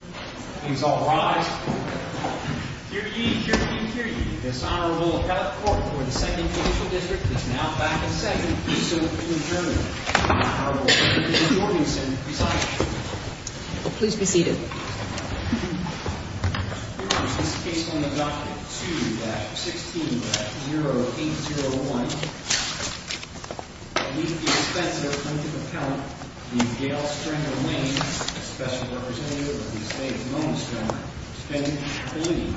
things. All right, you're easy. This honorable court for the second district is now back in second. Please be seated. Here is this case on the doctor to 16 0 8 0 1. Please be expensive. Gail Strangling special representative of the state's most believe.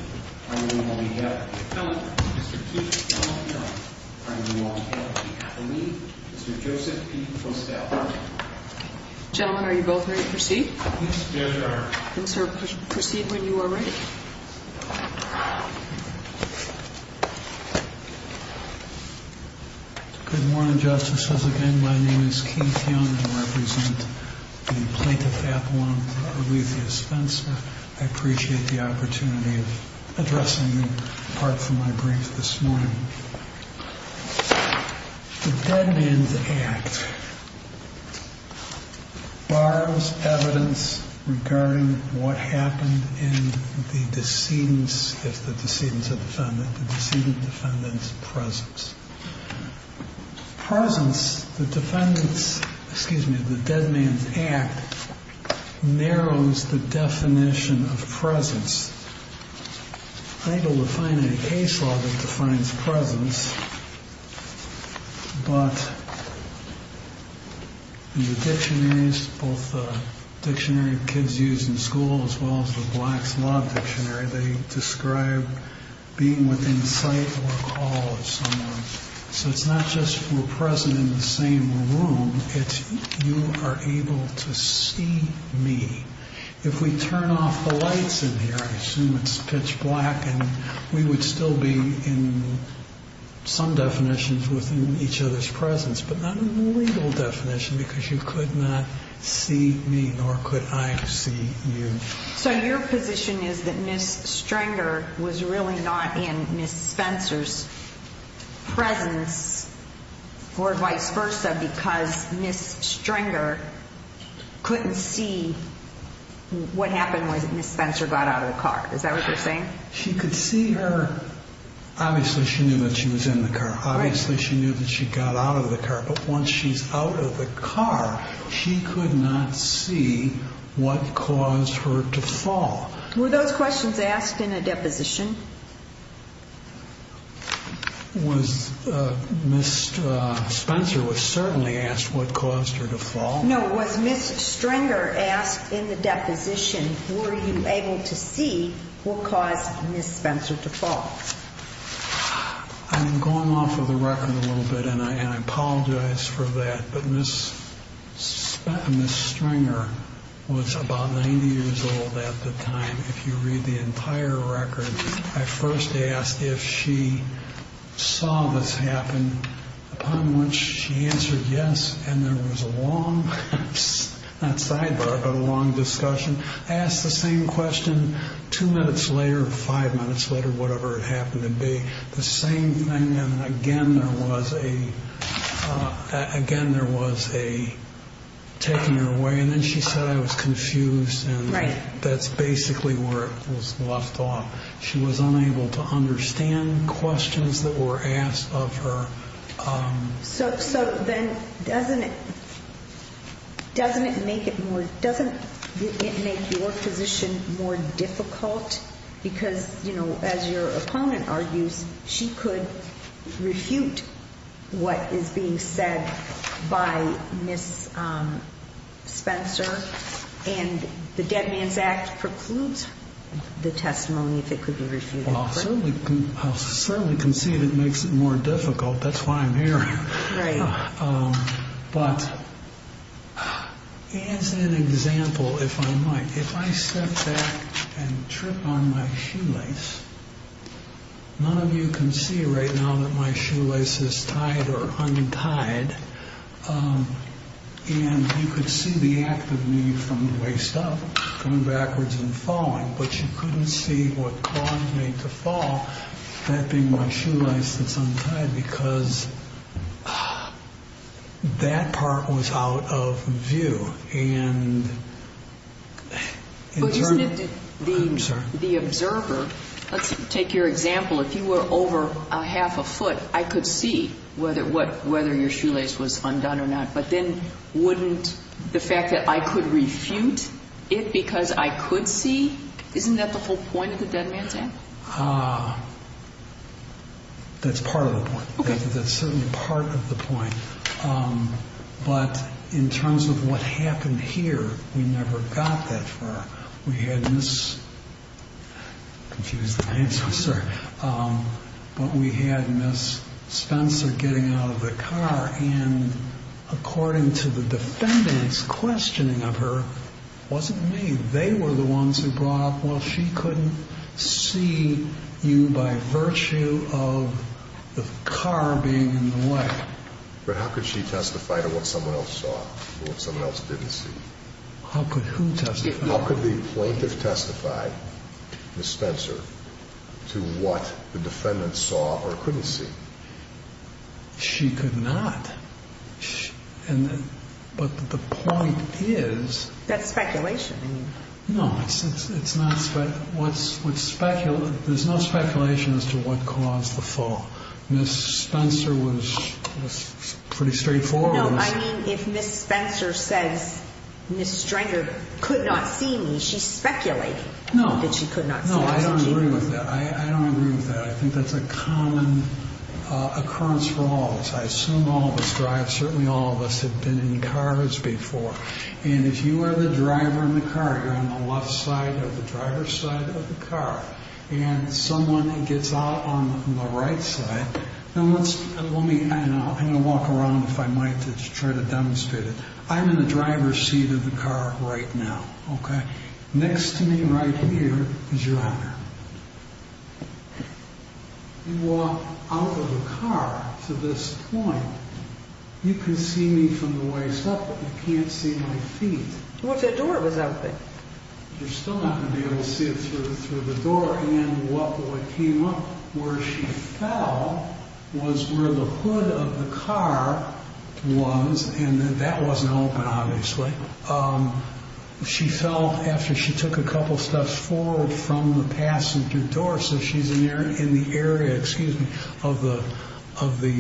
Gentlemen, are you both ready? Proceed? Proceed when you are ready. Good morning, justices. Again, my name is Keith. I appreciate the opportunity of addressing you apart from my brief this morning. The dead man's act. Borrows evidence regarding what happened in the decedents. If the decedents of the defendant, the decedent defendants presence. Presence the defendants. Excuse me. The dead man's act narrows the definition of presence. I don't define any case law that defines presence. But. In the dictionaries, both the dictionary of kids used in school as well as the Black's Law Dictionary. They describe being within sight or call of someone. So it's not just we're present in the same room. It's you are able to see me. If we turn off the lights in here, I assume it's pitch black and we would still be in some definitions within each other's presence. But not a legal definition because you could not see me, nor could I see you. So your position is that Miss Stranger was really not in Miss Spencer's. Presence or vice versa, because Miss Stranger couldn't see what happened when Miss Spencer got out of the car. Is that what you're saying? She could see her. Obviously, she knew that she was in the car. Obviously, she knew that she got out of the car. But once she's out of the car, she could not see what caused her to fall. Were those questions asked in a deposition? Was Miss Spencer was certainly asked what caused her to fall? No. Was Miss Stranger asked in the deposition, were you able to see what caused Miss Spencer to fall? I'm going off of the record a little bit and I apologize for that. But Miss Stranger was about 90 years old at the time. If you read the entire record, I first asked if she saw this happen, upon which she answered yes. And there was a long, not sidebar, but a long discussion. I asked the same question two minutes later, five minutes later, whatever it happened to be the same thing. And again, there was a again, there was a taking her away. And then she said, I was confused. And that's basically where it was left off. She was unable to understand questions that were asked of her. So so then doesn't it doesn't it make it more doesn't it make your position more difficult? Because, you know, as your opponent argues, she could refute what is being said by Miss Spencer. And the Dead Man's Act precludes the testimony, if it could be refuted. Well, certainly I certainly can see that makes it more difficult. That's why I'm here. But as an example, if I might, if I step back and trip on my shoelace. None of you can see right now that my shoelace is tied or untied. And you could see the act of me from the waist up, coming backwards and falling. But you couldn't see what caused me to fall. That being my shoelace that's untied because that part was out of view. And the observer, let's take your example. If you were over a half a foot, I could see whether what whether your shoelace was undone or not. But then wouldn't the fact that I could refute it because I could see. Isn't that the whole point of the Dead Man's Act? That's part of the point. That's certainly part of the point. But in terms of what happened here, we never got that far. We had this confused answer, sir. But we had Miss Spencer getting out of the car. And according to the defendants, questioning of her wasn't me. They were the ones who brought up, well, she couldn't see you by virtue of the car being in the way. But how could she testify to what someone else saw or what someone else didn't see? How could who testify? How could the plaintiff testify, Miss Spencer, to what the defendant saw or couldn't see? She could not. And but the point is. That's speculation. No, it's not. What's what's speculated? There's no speculation as to what caused the fall. Miss Spencer was pretty straightforward. I mean, if Miss Spencer says Miss Stranger could not see me, she's speculating. No, she could not. No, I don't agree with that. I don't agree with that. I think that's a common occurrence for all of us. I assume all of us drive. Certainly all of us have been in cars before. And if you are the driver in the car, you're on the left side of the driver's side of the car. And someone gets out on the right side. Now, let's let me walk around. If I might just try to demonstrate it. I'm in the driver's seat of the car right now. Okay. Next to me right here is your Honor. You walk out of the car to this point. You can see me from the waist up, but you can't see my feet. What's that door was out there. You're still not going to be able to see it through the door. And what came up where she fell was where the hood of the car was. And that wasn't open, obviously. She fell after she took a couple steps forward from the passenger door. So she's in there in the area, excuse me, of the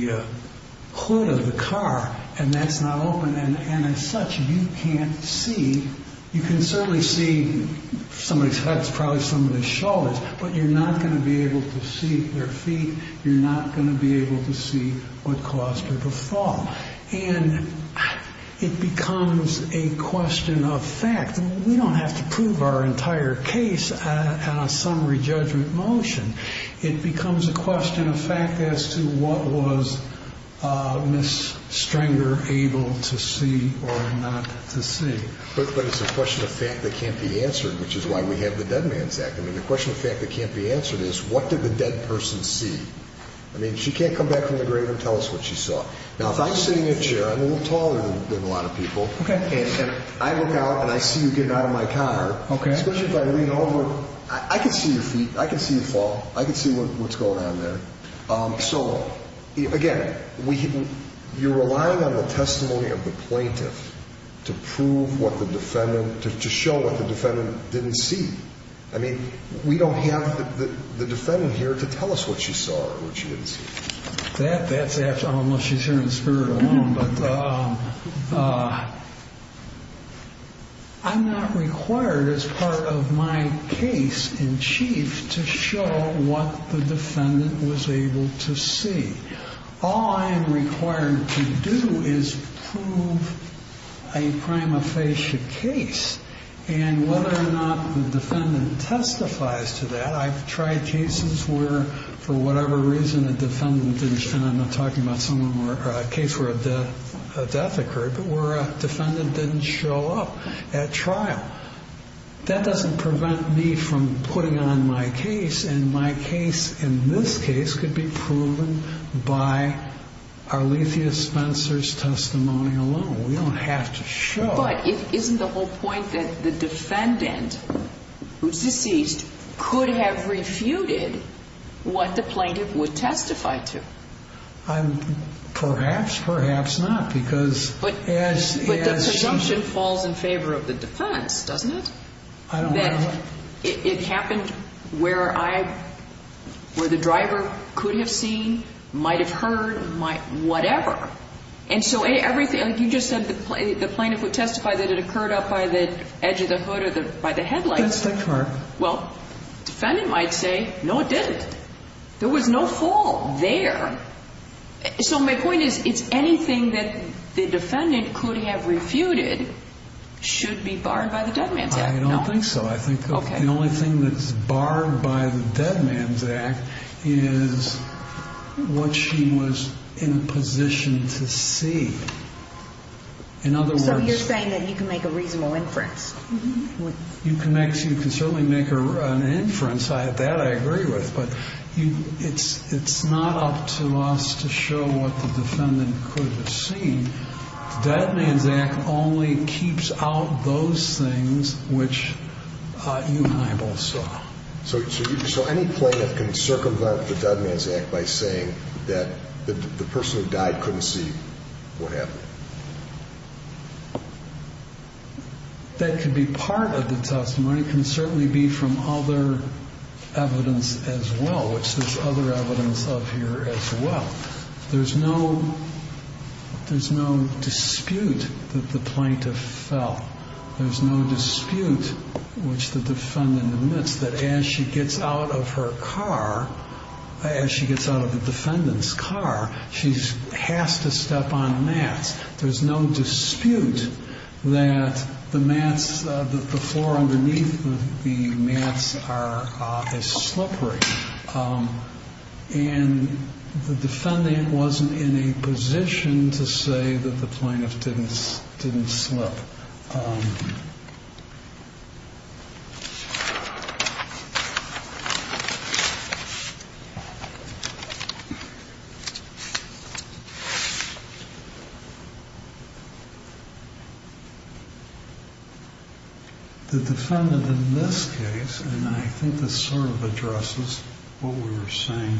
hood of the car. And that's not open. And as such, you can't see. You can certainly see somebody's, that's probably somebody's shoulders, but you're not going to be able to see their feet. You're not going to be able to see what caused her to fall. And it becomes a question of fact. We don't have to prove our entire case on a summary judgment motion. It becomes a question of fact as to what was Miss Stringer able to see or not to see. But it's a question of fact that can't be answered, which is why we have the Dead Man's Act. I mean, the question of fact that can't be answered is what did the dead person see? I mean, she can't come back from the grave and tell us what she saw. Now, if I'm sitting in a chair, I'm a little taller than a lot of people. And if I look out and I see you getting out of my car, especially if I lean over, I can see your feet. I can see you fall. I can see what's going on there. So, again, you're relying on the testimony of the plaintiff to prove what the defendant, to show what the defendant didn't see. I mean, we don't have the defendant here to tell us what she saw or what she didn't see. That's after, unless she's here in spirit alone. But I'm not required as part of my case in chief to show what the defendant was able to see. All I am required to do is prove a prima facie case and whether or not the defendant testifies to that. I've tried cases where, for whatever reason, a defendant didn't, and I'm not talking about someone or a case where a death occurred, but where a defendant didn't show up at trial. That doesn't prevent me from putting on my case. And my case, in this case, could be proven by Arlethea Spencer's testimony alone. We don't have to show. But isn't the whole point that the defendant, who's deceased, could have refuted what the plaintiff would testify to? Perhaps, perhaps not. But the presumption falls in favor of the defense, doesn't it? I don't know. That it happened where I, where the driver could have seen, might have heard, might, whatever. And so everything, like you just said, the plaintiff would testify that it occurred up by the edge of the hood or by the headlights. It does occur. Well, defendant might say, no, it didn't. There was no fall there. So my point is, it's anything that the defendant could have refuted should be barred by the Dead Man's Act. I don't think so. I think the only thing that's barred by the Dead Man's Act is what she was in a position to see. In other words. So you're saying that you can make a reasonable inference? You can make, you can certainly make an inference. I, that I agree with. But you, it's, it's not up to us to show what the defendant could have seen. Dead Man's Act only keeps out those things which you and I both saw. So, so you, so any plaintiff can circumvent the Dead Man's Act by saying that the person who died couldn't see what happened? That could be part of the testimony. It can certainly be from other evidence as well, which there's other evidence of here as well. There's no, there's no dispute that the plaintiff fell. There's no dispute which the defendant admits that as she gets out of her car, as she gets out of the defendant's car, she has to step on mats. There's no dispute that the mats, the floor underneath the mats are as slippery. And the defendant wasn't in a position to say that the plaintiff didn't, didn't slip. The defendant in this case, and I think this sort of addresses what we were saying,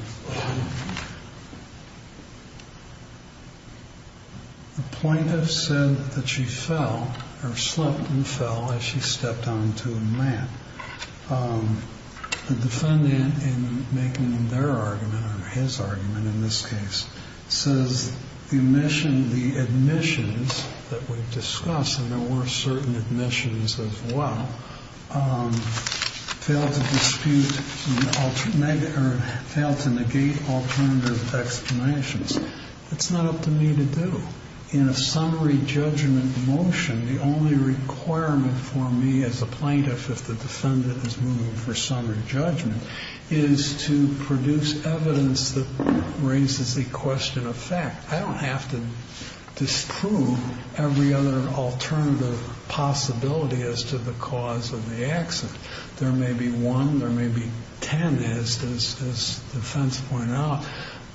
the defendant in making their argument, or his argument in this case, says the admission, the admissions that we've discussed, and there were certain admissions as well, failed to dispute, or failed to negate alternative explanations. It's not up to me to do. In a summary judgment motion, the only requirement for me as a plaintiff, if the defendant is moving for summary judgment, is to produce evidence that raises the question of fact. I don't have to disprove every other alternative possibility as to the cause of the accident. There may be one, there may be 10, as the defense pointed out,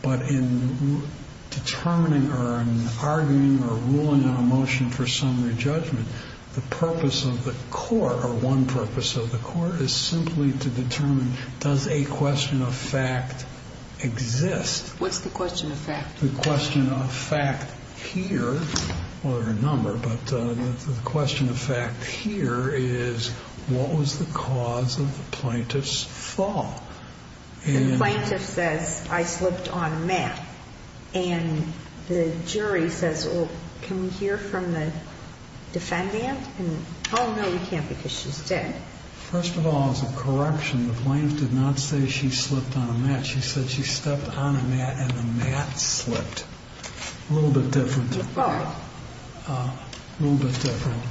but in determining or in arguing or ruling on a motion for summary judgment, the purpose of the court, or one purpose of the court, is simply to determine, does a question of fact exist? What's the question of fact? The question of fact here, well there are a number, but the question of fact here is, what was the cause of the plaintiff's fall? The plaintiff says, I slipped on a mat, and the jury says, well, can we hear from the defendant? And, oh no, you can't because she's dead. First of all, as a correction, the plaintiff did not say she slipped on a mat. She said she stepped on a mat and the mat slipped. A little bit different. A little bit different.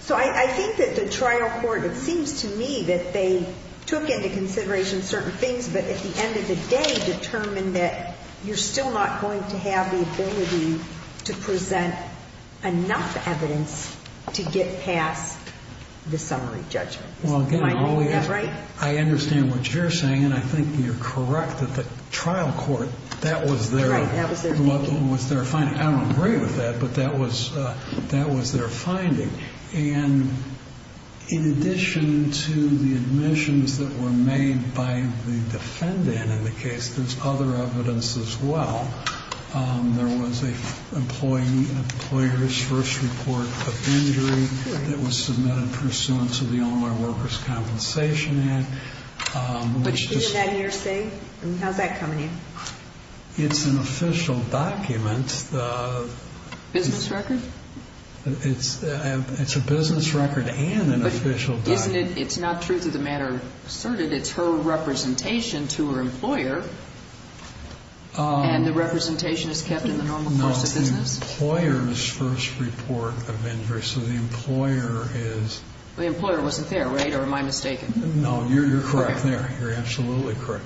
So I think that the trial court, it seems to me that they took into consideration certain things, but at the end of the day determined that you're still not going to have the ability to present enough evidence to get past the summary judgment. Well, again, I understand what you're saying, and I think you're correct that the trial court, that was their finding. I don't agree with that, but that was their finding. And, in addition to the admissions that were made by the defendant in the case, there's other evidence as well. There was an employer's first report of injury that was submitted pursuant to the Online Workers' Compensation Act. Which year did that year say? How's that coming in? It's an official document. Business record? It's a business record and an official document. It's not truth of the matter asserted. It's her representation to her employer. And the representation is kept in the normal course of business? No, the employer's first report of injury. So the employer is... The employer wasn't there, right? Or am I mistaken? No, you're correct there. You're absolutely correct.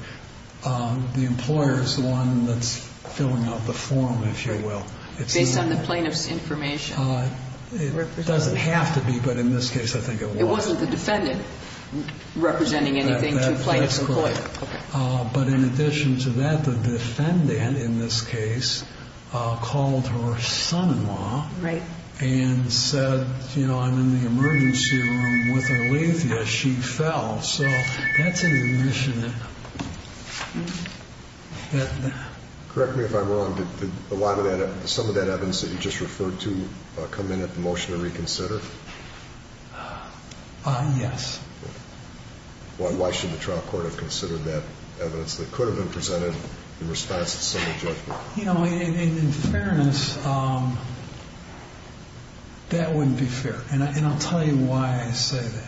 The employer is the one that's filling out the form, if you will. Based on the plaintiff's information? It doesn't have to be, but in this case, I think it was. It wasn't the defendant representing anything to the plaintiff's employer? That's correct. But in addition to that, the defendant in this case called her son-in-law and said, you know, I'm in the emergency room with Aletheia. She fell. So that's an admission. Correct me if I'm wrong. Did a lot of that, some of that evidence that you just referred to come in at the motion to reconsider? Yes. Why should the trial court have considered that evidence that could have been presented in response to civil judgment? You know, in fairness, that wouldn't be fair. And I'll tell you why I say that.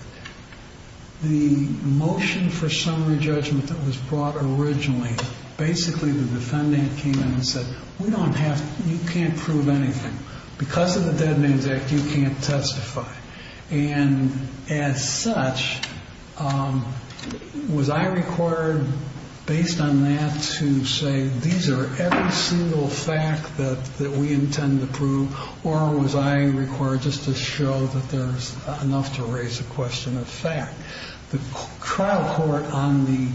The motion for summary judgment that was brought originally, basically the defendant came in and said, we don't have, you can't prove anything. Because of the Dead Names Act, you can't testify. And as such, was I required, based on that, to say, these are every single fact that we intend to prove? Or was I required just to show that there's enough to raise a question of fact? The trial court on the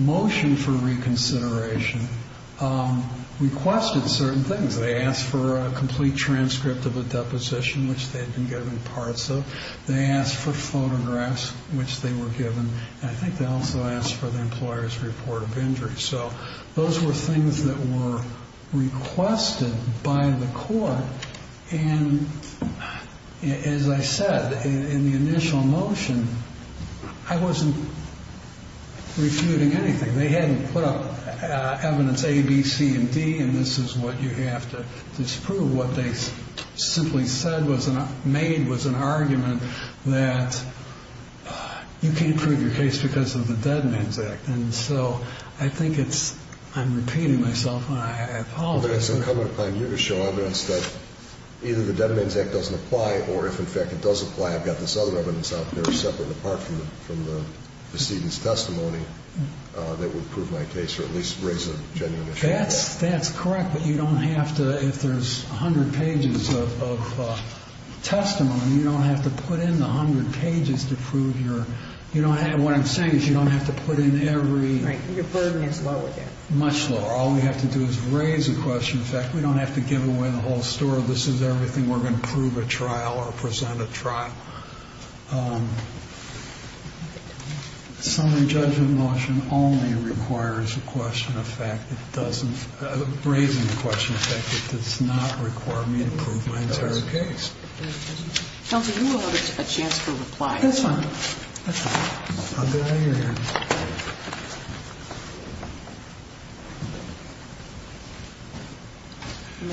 motion for reconsideration requested certain things. They asked for a complete transcript of a deposition, which they had been given parts of. They asked for photographs, which they were given. And I think they also asked for the employer's report of injury. So those were things that were requested by the court. And as I said, in the initial motion, I wasn't refuting anything. They hadn't put up evidence A, B, C, and D. And this is what you have to disprove. What they simply said was, made was an argument that you can't prove your case because of the Dead Names Act. And so I think it's, I'm repeating myself. I have a comment upon you to show evidence that either the Dead Names Act doesn't apply, or if in fact it does apply, I've got this other evidence out there, separate and apart from the proceedings testimony, that would prove my case or at least raise a genuine issue. That's correct. But you don't have to, if there's a hundred pages of testimony, you don't have to put in the hundred pages to prove your, you don't have, what I'm saying is you don't have to put in every... Right, your burden is lower there. Much lower. All we have to do is raise a question of fact. We don't have to give away the whole story. This is everything. We're going to prove a trial or present a trial. Summary judgment motion only requires a question of fact. It doesn't, raising a question of fact, it does not require me to prove my entire case. Counselor, you will have a chance to reply. Yes, ma'am. I'll get out of your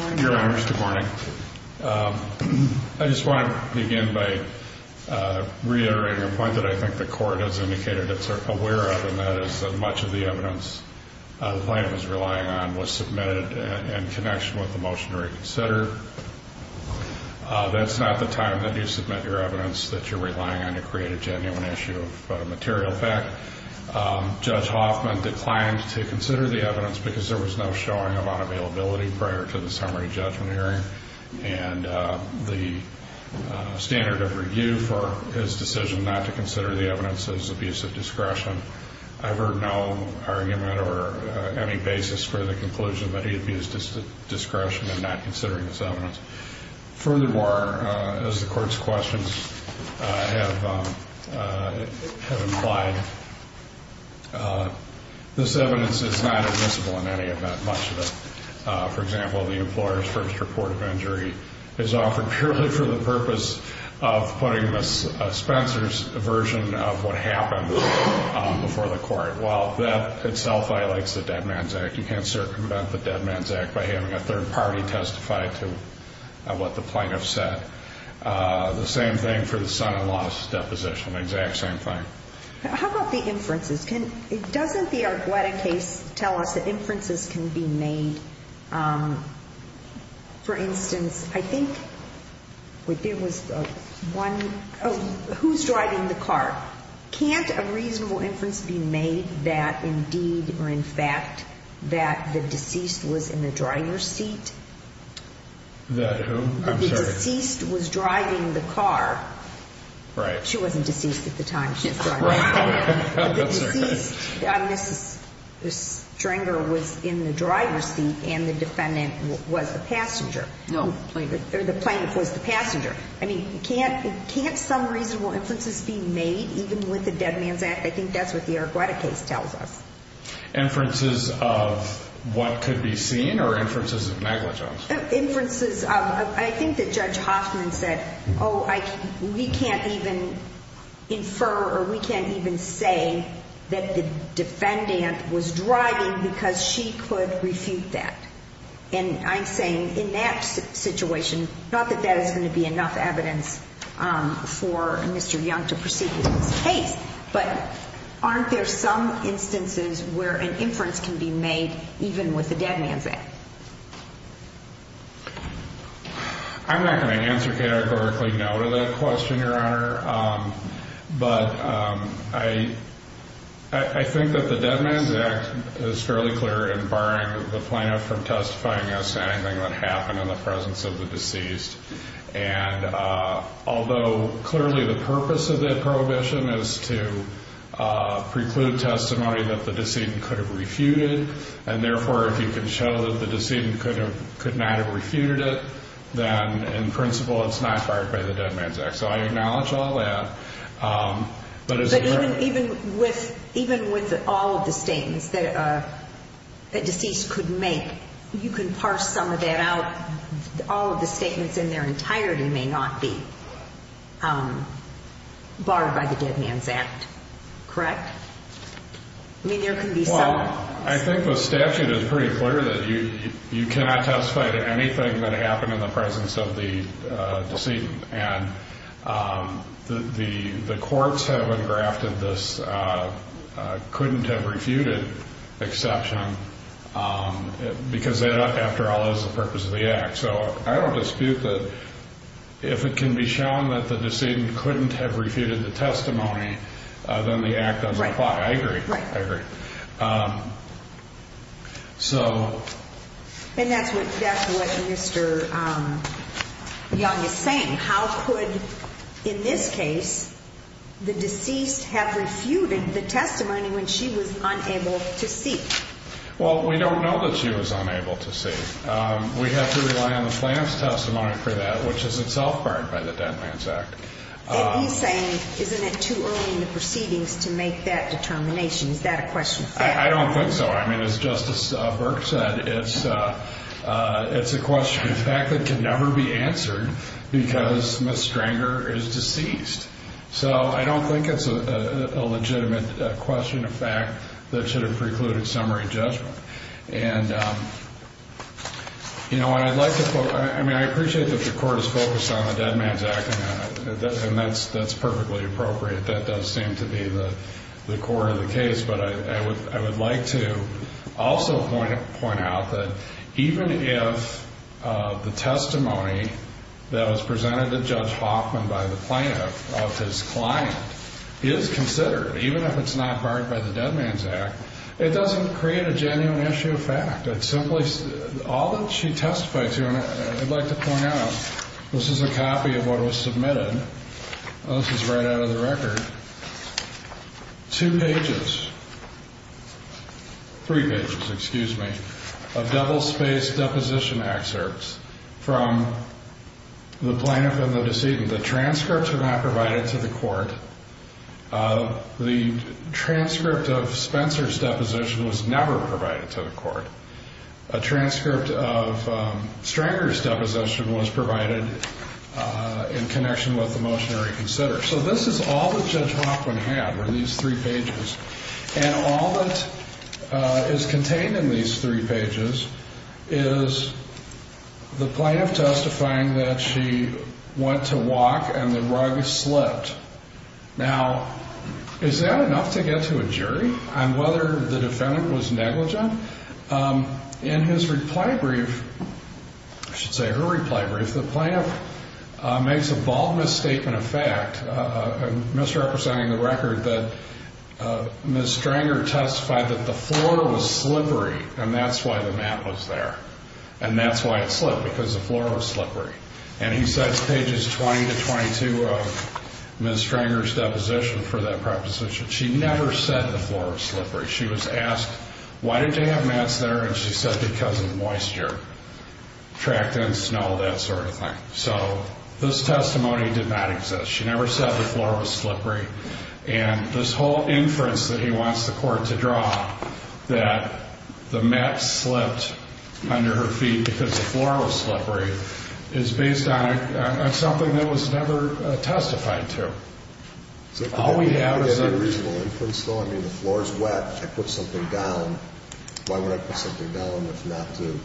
hair. Your honor, good morning. I just want to begin by reiterating a point that I think the court has indicated it's aware of and that is that much of the evidence the plaintiff is relying on was submitted in connection with the motion to reconsider. That's not the time that you submit your evidence that you're relying on to create a genuine issue of material fact. Judge Hoffman declined to consider the evidence because there was no showing of unavailability prior to the summary judgment hearing and the standard of review for his decision not to consider the evidence as abuse of discretion. I've heard no argument or any basis for the conclusion that he abused his discretion in not considering this evidence. Furthermore, as the court's questions have implied, this evidence is not admissible in any event, much of it. For example, the employer's first report of injury is offered purely for the purpose of putting Ms. Spencer's version of what happened before the court. While that itself highlights the Dead Man's Act, you can't circumvent the what the plaintiff said. The same thing for the son-in-law's deposition, exact same thing. How about the inferences? Can, doesn't the Argueta case tell us that inferences can be made? For instance, I think what there was one, who's driving the car? Can't a reasonable inference be made that indeed or in fact that the deceased was in the driver's seat? That who? I'm sorry. The deceased was driving the car. Right. She wasn't deceased at the time. She was driving the car. Right. I'm sorry. The deceased, Mrs. Stringer, was in the driver's seat and the defendant was the passenger. No, the plaintiff was the passenger. I mean, can't, can't some reasonable inferences be made even with the Dead Man's Act? I think that's what the Argueta case tells us. Inferences of what could be seen or inferences of negligence? Inferences of, I think that Judge Hoffman said, oh, we can't even infer or we can't even say that the defendant was driving because she could refute that. And I'm saying in that situation, not that that is going to be enough evidence for Mr. Young to proceed with this case, but aren't there some instances where an inference can be made even with the Dead Man's Act? I'm not going to answer categorically no to that question, Your Honor. But I, I think that the Dead Man's Act is fairly clear in barring the plaintiff from testifying against anything that happened in the presence of the deceased. And although clearly the purpose of that prohibition is to preclude testimony that the decedent could have refuted. And therefore, if you can show that the decedent could have, could not have refuted it, then in principle, it's not fired by the Dead Man's Act. So I acknowledge all that. But even with, even with all of the statements that a deceased could make, you can parse some of that out. All of the statements in their entirety may not be barred by the Dead Man's Act. Correct? I mean, there can be some... Well, I think the statute is pretty clear that you, you cannot testify to anything that happened in the presence of the decedent. And the, the courts have engrafted this couldn't have refuted exception because that, after all, is the purpose of the act. So I don't dispute that if it can be shown that the decedent couldn't have testified, I agree, I agree. So... And that's what, that's what Mr. Young is saying. How could, in this case, the deceased have refuted the testimony when she was unable to see? Well, we don't know that she was unable to see. We have to rely on the plan's testimony for that, which is itself barred by the Dead Man's Act. And he's saying, isn't it too early in the proceedings to make that determination? Is that a question of fact? I don't think so. I mean, as Justice Burke said, it's, it's a question of fact that can never be answered because Miss Stranger is deceased. So I don't think it's a legitimate question of fact that should have precluded summary judgment. And, you know, and I'd like to, I mean, I appreciate that the court is on the Dead Man's Act and that's, that's perfectly appropriate. That does seem to be the core of the case. But I would, I would like to also point out that even if the testimony that was presented to Judge Hoffman by the plaintiff of his client is considered, even if it's not barred by the Dead Man's Act, it doesn't create a genuine issue of fact. It simply, all that she testified to, and I'd like to point out, this is a copy of what was submitted. This is right out of the record. Two pages, three pages, excuse me, of double spaced deposition excerpts from the plaintiff and the decedent. The transcripts were not provided to the court. The transcript of Spencer's deposition was never provided to the court. A transcript of Stranger's deposition was provided in connection with the motionary consider. So this is all that Judge Hoffman had were these three pages. And all that is contained in these three pages is the plaintiff testifying that she went to walk and the rug slipped. Now, is that enough to get to a jury on whether the defendant was in his reply brief? I should say her reply brief. The plaintiff makes a bald misstatement of fact, misrepresenting the record that Ms. Stranger testified that the floor was slippery and that's why the mat was there and that's why it slipped because the floor was slippery. And he says pages 20 to 22 of Ms. Stranger's deposition for that preposition. She never said the floor was slippery. She was asked, why did they have mats there? And she said, because of the moisture, tractants, snow, that sort of thing. So this testimony did not exist. She never said the floor was slippery. And this whole inference that he wants the court to draw that the mat slipped under her feet because the floor was slippery is based on something that was never testified to. All we have is a reasonable inference though. I mean, the floor is wet. I put something down. Why would I put something down if not to?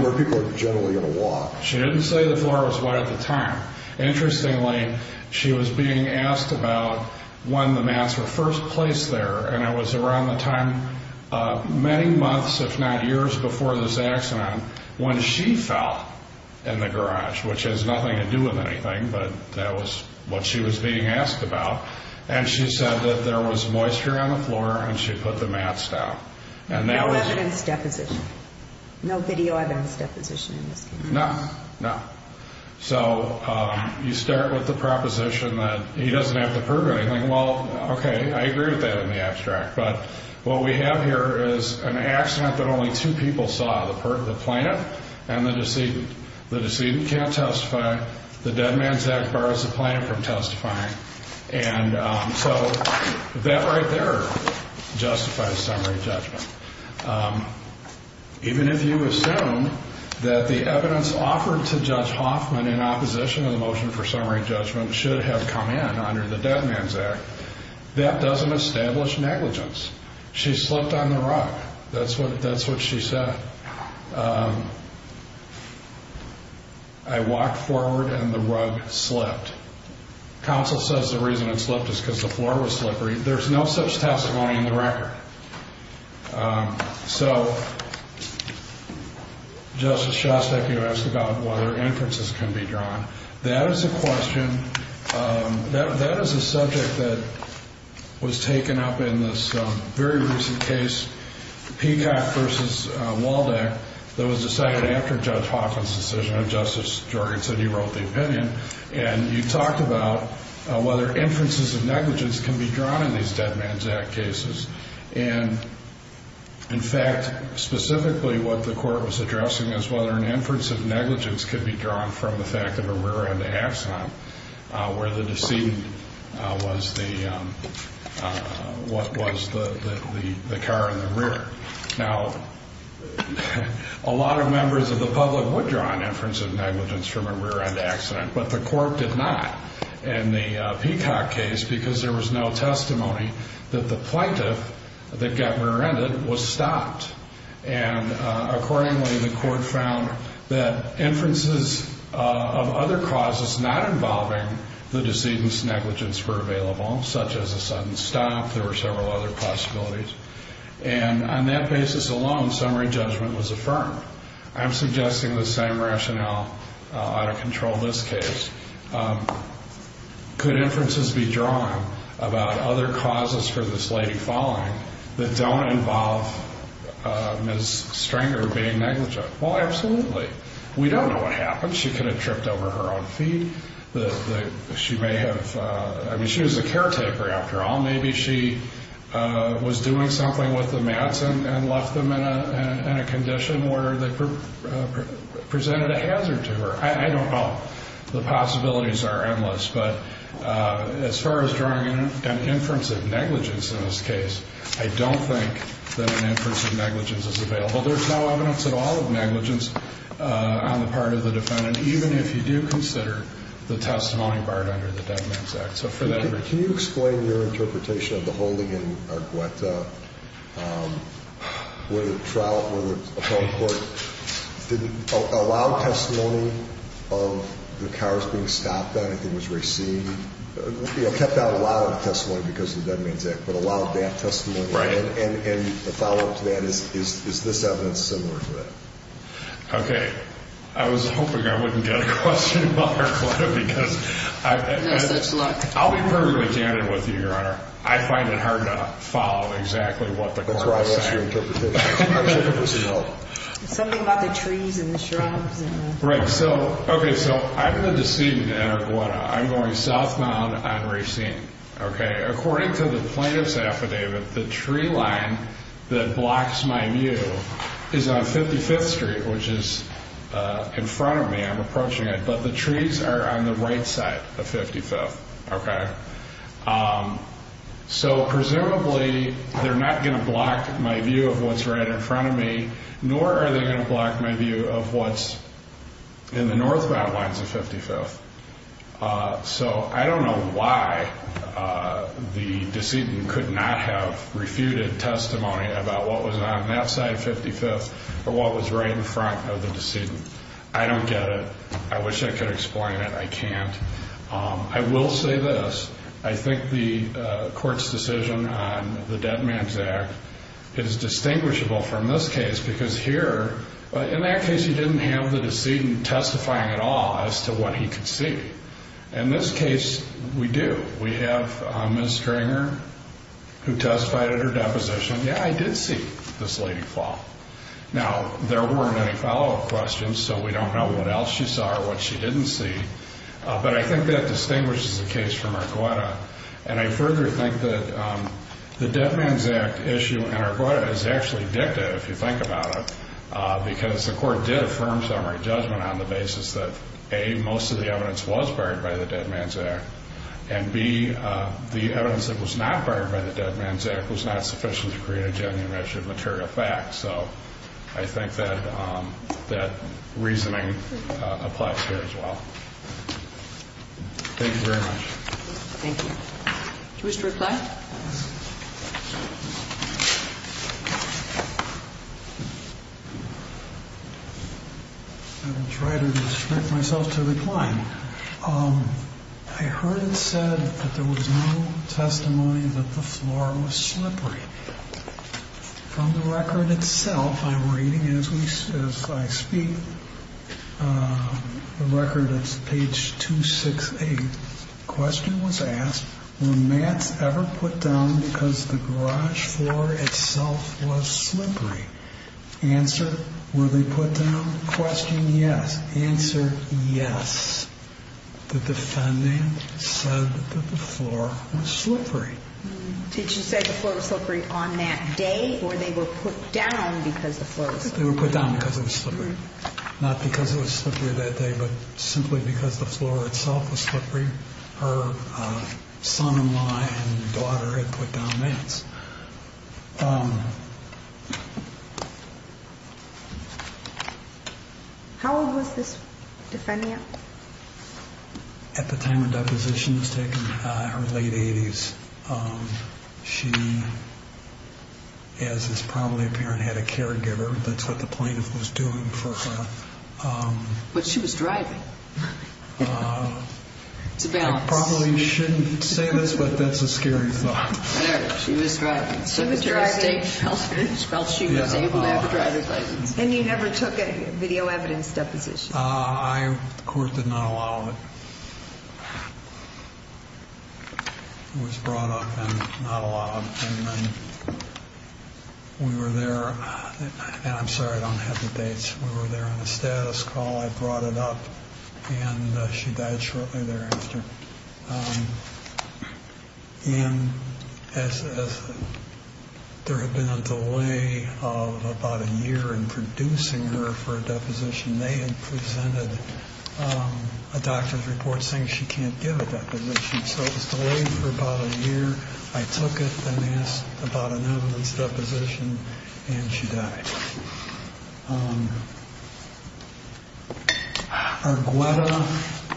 Where people are generally going to walk. She didn't say the floor was wet at the time. Interestingly, she was being asked about when the mats were first placed there and it was around the time, many months, if not years before this accident, when she fell in the garage, which has nothing to do with anything. But that was what she was being asked about. And she said that there was moisture on the floor and she put the mats down. No evidence deposition. No video evidence deposition in this case. No, no. So you start with the proposition that he doesn't have to prove anything. Well, okay. I agree with that in the abstract. But what we have here is an accident that only two people saw. The plaintiff and the decedent. The decedent can't testify. The Dead Man's Act borrows the plaintiff from testifying. And so that right there justifies summary judgment. Even if you assume that the evidence offered to Judge Hoffman in opposition of the motion for summary judgment should have come in under the Dead Man's Act, that doesn't establish negligence. She slipped on the rug. That's what she said. She said, I walked forward and the rug slipped. Counsel says the reason it slipped is because the floor was slippery. There's no such testimony in the record. So, Justice Shostak, you asked about whether inferences can be drawn. That is a question, that is a subject that was taken up in this very recent case. Peacock v. Waldeck that was decided after Judge Hoffman's decision. And Justice Jorgen said he wrote the opinion. And you talked about whether inferences of negligence can be drawn in these Dead Man's Act cases. And, in fact, specifically what the court was addressing is whether an inference of negligence could be drawn from the fact of a rear-end accident where the decedent was the car in the rear. Now, a lot of members of the public would draw an inference of negligence from a rear-end accident, but the court did not in the Peacock case because there was no testimony that the plaintiff that got rear-ended was stopped. And, accordingly, the court found that inferences of other causes not involving the decedent's negligence were available, such as a sudden stop. There were several other possibilities. And on that basis alone, summary judgment was affirmed. I'm suggesting the same rationale out of control in this case. Could inferences be drawn about other causes for this lady falling that don't involve Ms. Stringer being negligent? Well, absolutely. We don't know what happened. She could have tripped over her own feet. She may have, I mean, she was a caretaker after all. Maybe she was doing something with the mats and left them in a condition where they presented a hazard to her. I don't know. The possibilities are endless. But as far as drawing an inference of negligence in this case, I don't think that an inference of negligence is available. There's no evidence at all of negligence on the part of the defendant, even if you do consider the testimony barred under the Dead Man's Act. Can you explain your interpretation of the holding in Argueta, where the trial, where the home court didn't allow testimony of the cars being stopped, that anything was received, you know, kept out allowing testimony because of the Dead Man's Act, but allowed that testimony. Right. And the follow-up to that is, is this evidence similar to that? Okay. I was hoping I wouldn't get a question about Argueta because I've had... I'll be perfectly candid with you, Your Honor. I find it hard to follow exactly what the court is saying. That's right. What's your interpretation? Something about the trees and the shrubs. Right. So, okay. So I'm the decedent in Argueta. I'm going southbound on Racine. Okay. According to the plaintiff's affidavit, the tree line that blocks my view is on 55th Street, which is in front of me. I'm approaching it. But the trees are on the right side of 55th. Okay. So presumably, they're not going to block my view of what's right in front of me, nor are they going to block my view of what's in the northbound lines of 55th. So I don't know why the decedent could not have refuted testimony about what was on that side of 55th or what was right in front of the decedent. I don't get it. I wish I could explain it. I can't. I will say this. I think the court's decision on the Dead Man's Act is distinguishable from this case because here, in that case, he didn't have the decedent testifying at all as to what he could see. In this case, we do. We have Ms. Kringer, who testified at her deposition. Yeah, I did see this lady fall. Now, there weren't any follow-up questions, so we don't know what else she saw or what she didn't see. But I think that distinguishes the case from Arguetta. And I further think that the Dead Man's Act issue in Arguetta is actually dictative, if you think about it, because the court did affirm summary judgment on the basis that, A, most of the evidence was buried by the Dead Man's Act, and B, the evidence that was not buried by the Dead Man's Act was not sufficient to create a genuine measure of material facts. So I think that reasoning applies here as well. Thank you very much. Thank you. Do you wish to reply? I will try to restrict myself to replying. I heard it said that there was no testimony that the floor was slippery. From the record itself, I'm reading as I speak, the record is page 268. The question was asked, were mats ever put down because the garage floor itself was slippery? Answer, were they put down? Question, yes. Answer, yes. The defendant said that the floor was slippery. Did she say the floor was slippery on that day, or they were put down because the floor was slippery? They were put down because it was slippery. Not because it was slippery that day, but simply because the floor itself was slippery. Her son-in-law and daughter had put down mats. How old was this defendant? At the time the deposition was taken, her late 80s. She, as is probably apparent, had a caregiver. That's what the plaintiff was doing for her. But she was driving. It's a balance. I probably shouldn't say this, but that's a scary thought. Whatever. She was driving. So the state felt she was able to have a driver's license. And you never took a video evidence deposition? The court did not allow it. It was brought up and not allowed. We were there. And I'm sorry, I don't have the dates. We were there on a status call. I brought it up and she died shortly thereafter. There had been a delay of about a year in producing her for a deposition. They had presented a doctor's report saying she can't give a deposition. So it was delayed for about a year. I took it and asked about an evidence deposition and she died. Argueta,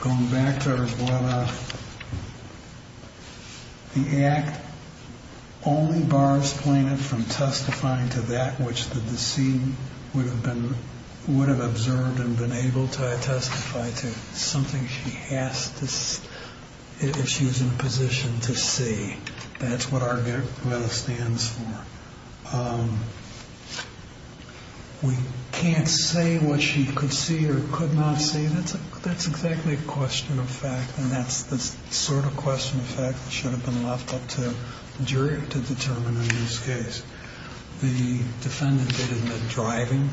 going back to Argueta. The act only bars plaintiff from testifying to that which the defendant has observed and been able to testify to. Something she has to, if she was in a position to see. That's what Argueta stands for. We can't say what she could see or could not see. That's exactly a question of fact. And that's the sort of question of fact that should have been left up to jury to determine in this case. The defendant did admit driving.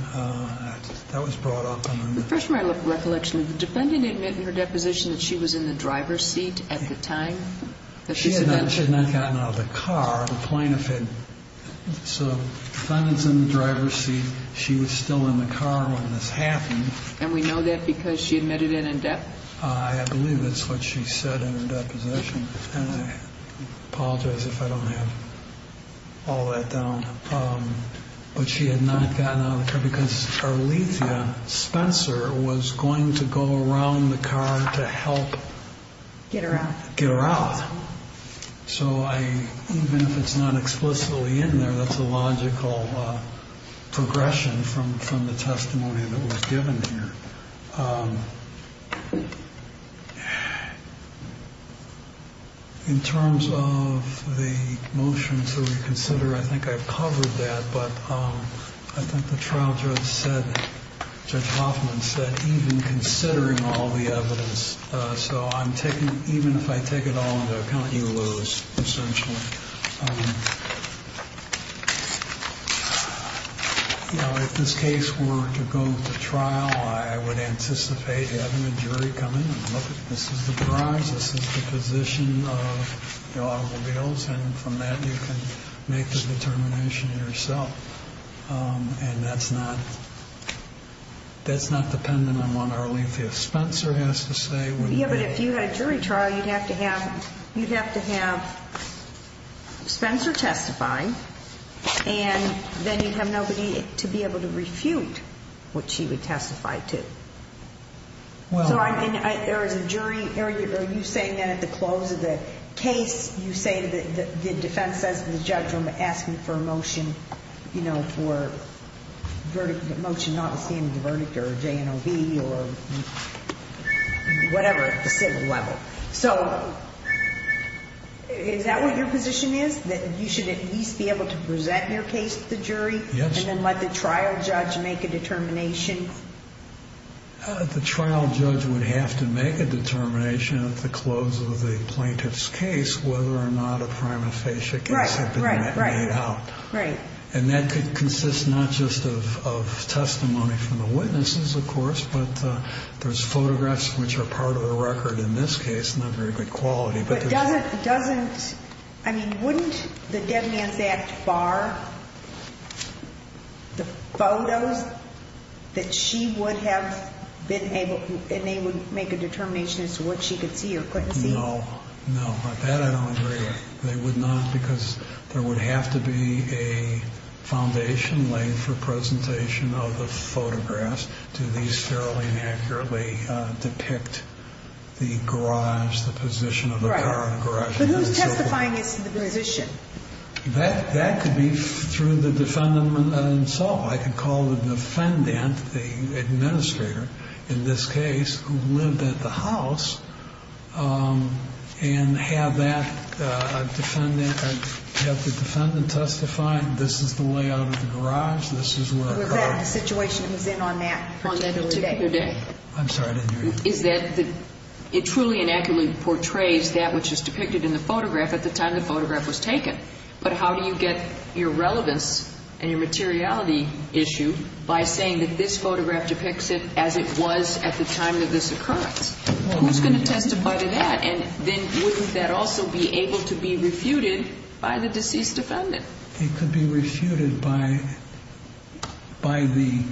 That was brought up. The first my recollection, the defendant admitted in her deposition that she was in the driver's seat at the time. She had not gotten out of the car. The plaintiff had, so the defendant's in the driver's seat. She was still in the car when this happened. And we know that because she admitted it in depth. I believe that's what she said in her deposition. And I apologize if I don't have all that down. But she had not gotten out of the car because Arlethea Spencer was going to go around the car to help get her out. Get her out. So I, even if it's not explicitly in there, that's a logical progression from the testimony that was given here. In terms of the motions that we consider, I think I've covered that, but I think the trial judge said, Judge Hoffman said, even considering all the evidence, so I'm taking, even if I take it all into account, you lose, essentially. And, you know, if this case were to go to trial, I would anticipate having a jury come in and look at, this is the drives, this is the position of the automobiles. And from that, you can make the determination yourself. And that's not, that's not dependent on what Arlethea Spencer has to say. Yeah, but if you had a jury trial, you'd have to have, you'd have to have Spencer testifying and then you'd have nobody to be able to refute what she would testify to. Well, I mean, there is a jury area. Are you saying that at the close of the case, you say that the defense says to the judge, I'm asking for a motion, you know, for verdict motion, notwithstanding the verdict or J and O B or whatever at the civil level. So is that what your position is that you should at least be able to present your case to the jury and then let the trial judge make a determination? The trial judge would have to make a determination at the close of the plaintiff's case, whether or not a prima facie case had been made out. Right. And that could consist not just of testimony from the witnesses, of course, but there's photographs, which are part of the record in this case, not very good quality. But doesn't doesn't I mean, wouldn't the dead man's act bar the photos that she would have been able and they would make a determination as to what she could see or couldn't see? No, no. They would not because there would have to be a foundation laid for presentation of the photographs to these fairly and accurately depict the garage, the position of the garage. But who's testifying is the position that that could be through the defendant himself. I can call the defendant, the administrator in this case, who lived at the house and have that defendant have the defendant testify. This is the way out of the garage. This is where the situation was in on that particular day. I'm sorry. Is that it truly and accurately portrays that which is depicted in the photograph at the time the photograph was taken? But how do you get your relevance and your materiality issue by saying that this photograph depicts it as it was at the time of this occurrence? Who's going to testify to that? And then wouldn't that also be able to be refuted by the deceased defendant? It could be refuted by by the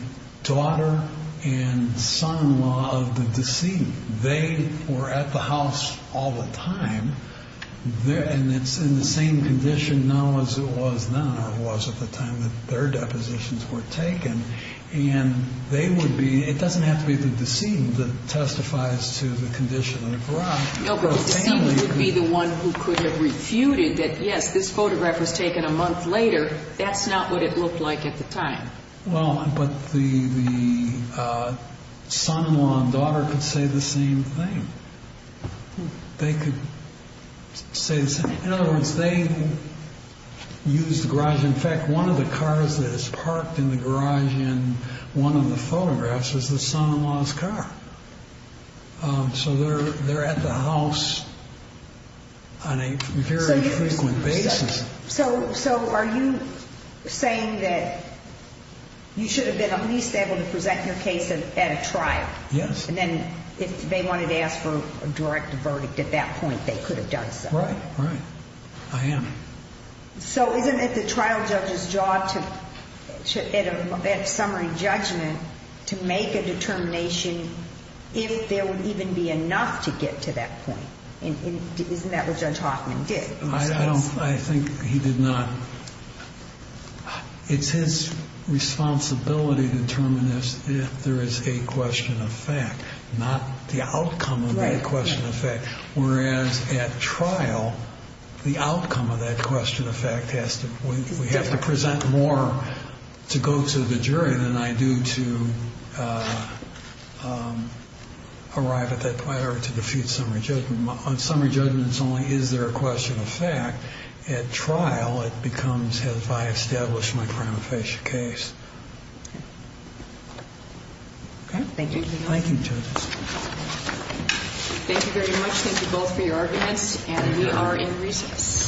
daughter and son-in-law of the deceased. They were at the house all the time there. And it's in the same condition now as it was now or was at the time that their depositions were taken. And they would be it doesn't have to be the deceased that testifies to the condition of the garage. No, but the deceased would be the one who could have refuted that. Yes, this photograph was taken a month later. That's not what it looked like at the time. Well, but the son-in-law and daughter could say the same thing. They could say the same. In other words, they used the garage. In fact, one of the cars that is parked in the garage in one of the photographs is the son-in-law's car. So they're at the house on a very frequent basis. So so are you saying that you should have been at least able to present your case at a trial? Yes. And then if they wanted to ask for a direct verdict at that point, they could have done so. Right, right. I am. So isn't it the trial judge's job to at summary judgment to make a determination if there would even be enough to get to that point? And isn't that what Judge Hoffman did? I don't I think he did not. It's his responsibility to determine if there is a question of fact, not the outcome of the question of fact. Whereas at trial, the outcome of that question of fact has to we have to present more to go to the jury than I do to arrive at that point or to defeat summary judgment on summary judgments. Only is there a question of fact at trial? It becomes if I establish my crime of facial case. Thank you. Thank you. Thank you very much. Thank you both for your arguments. And we are in recess.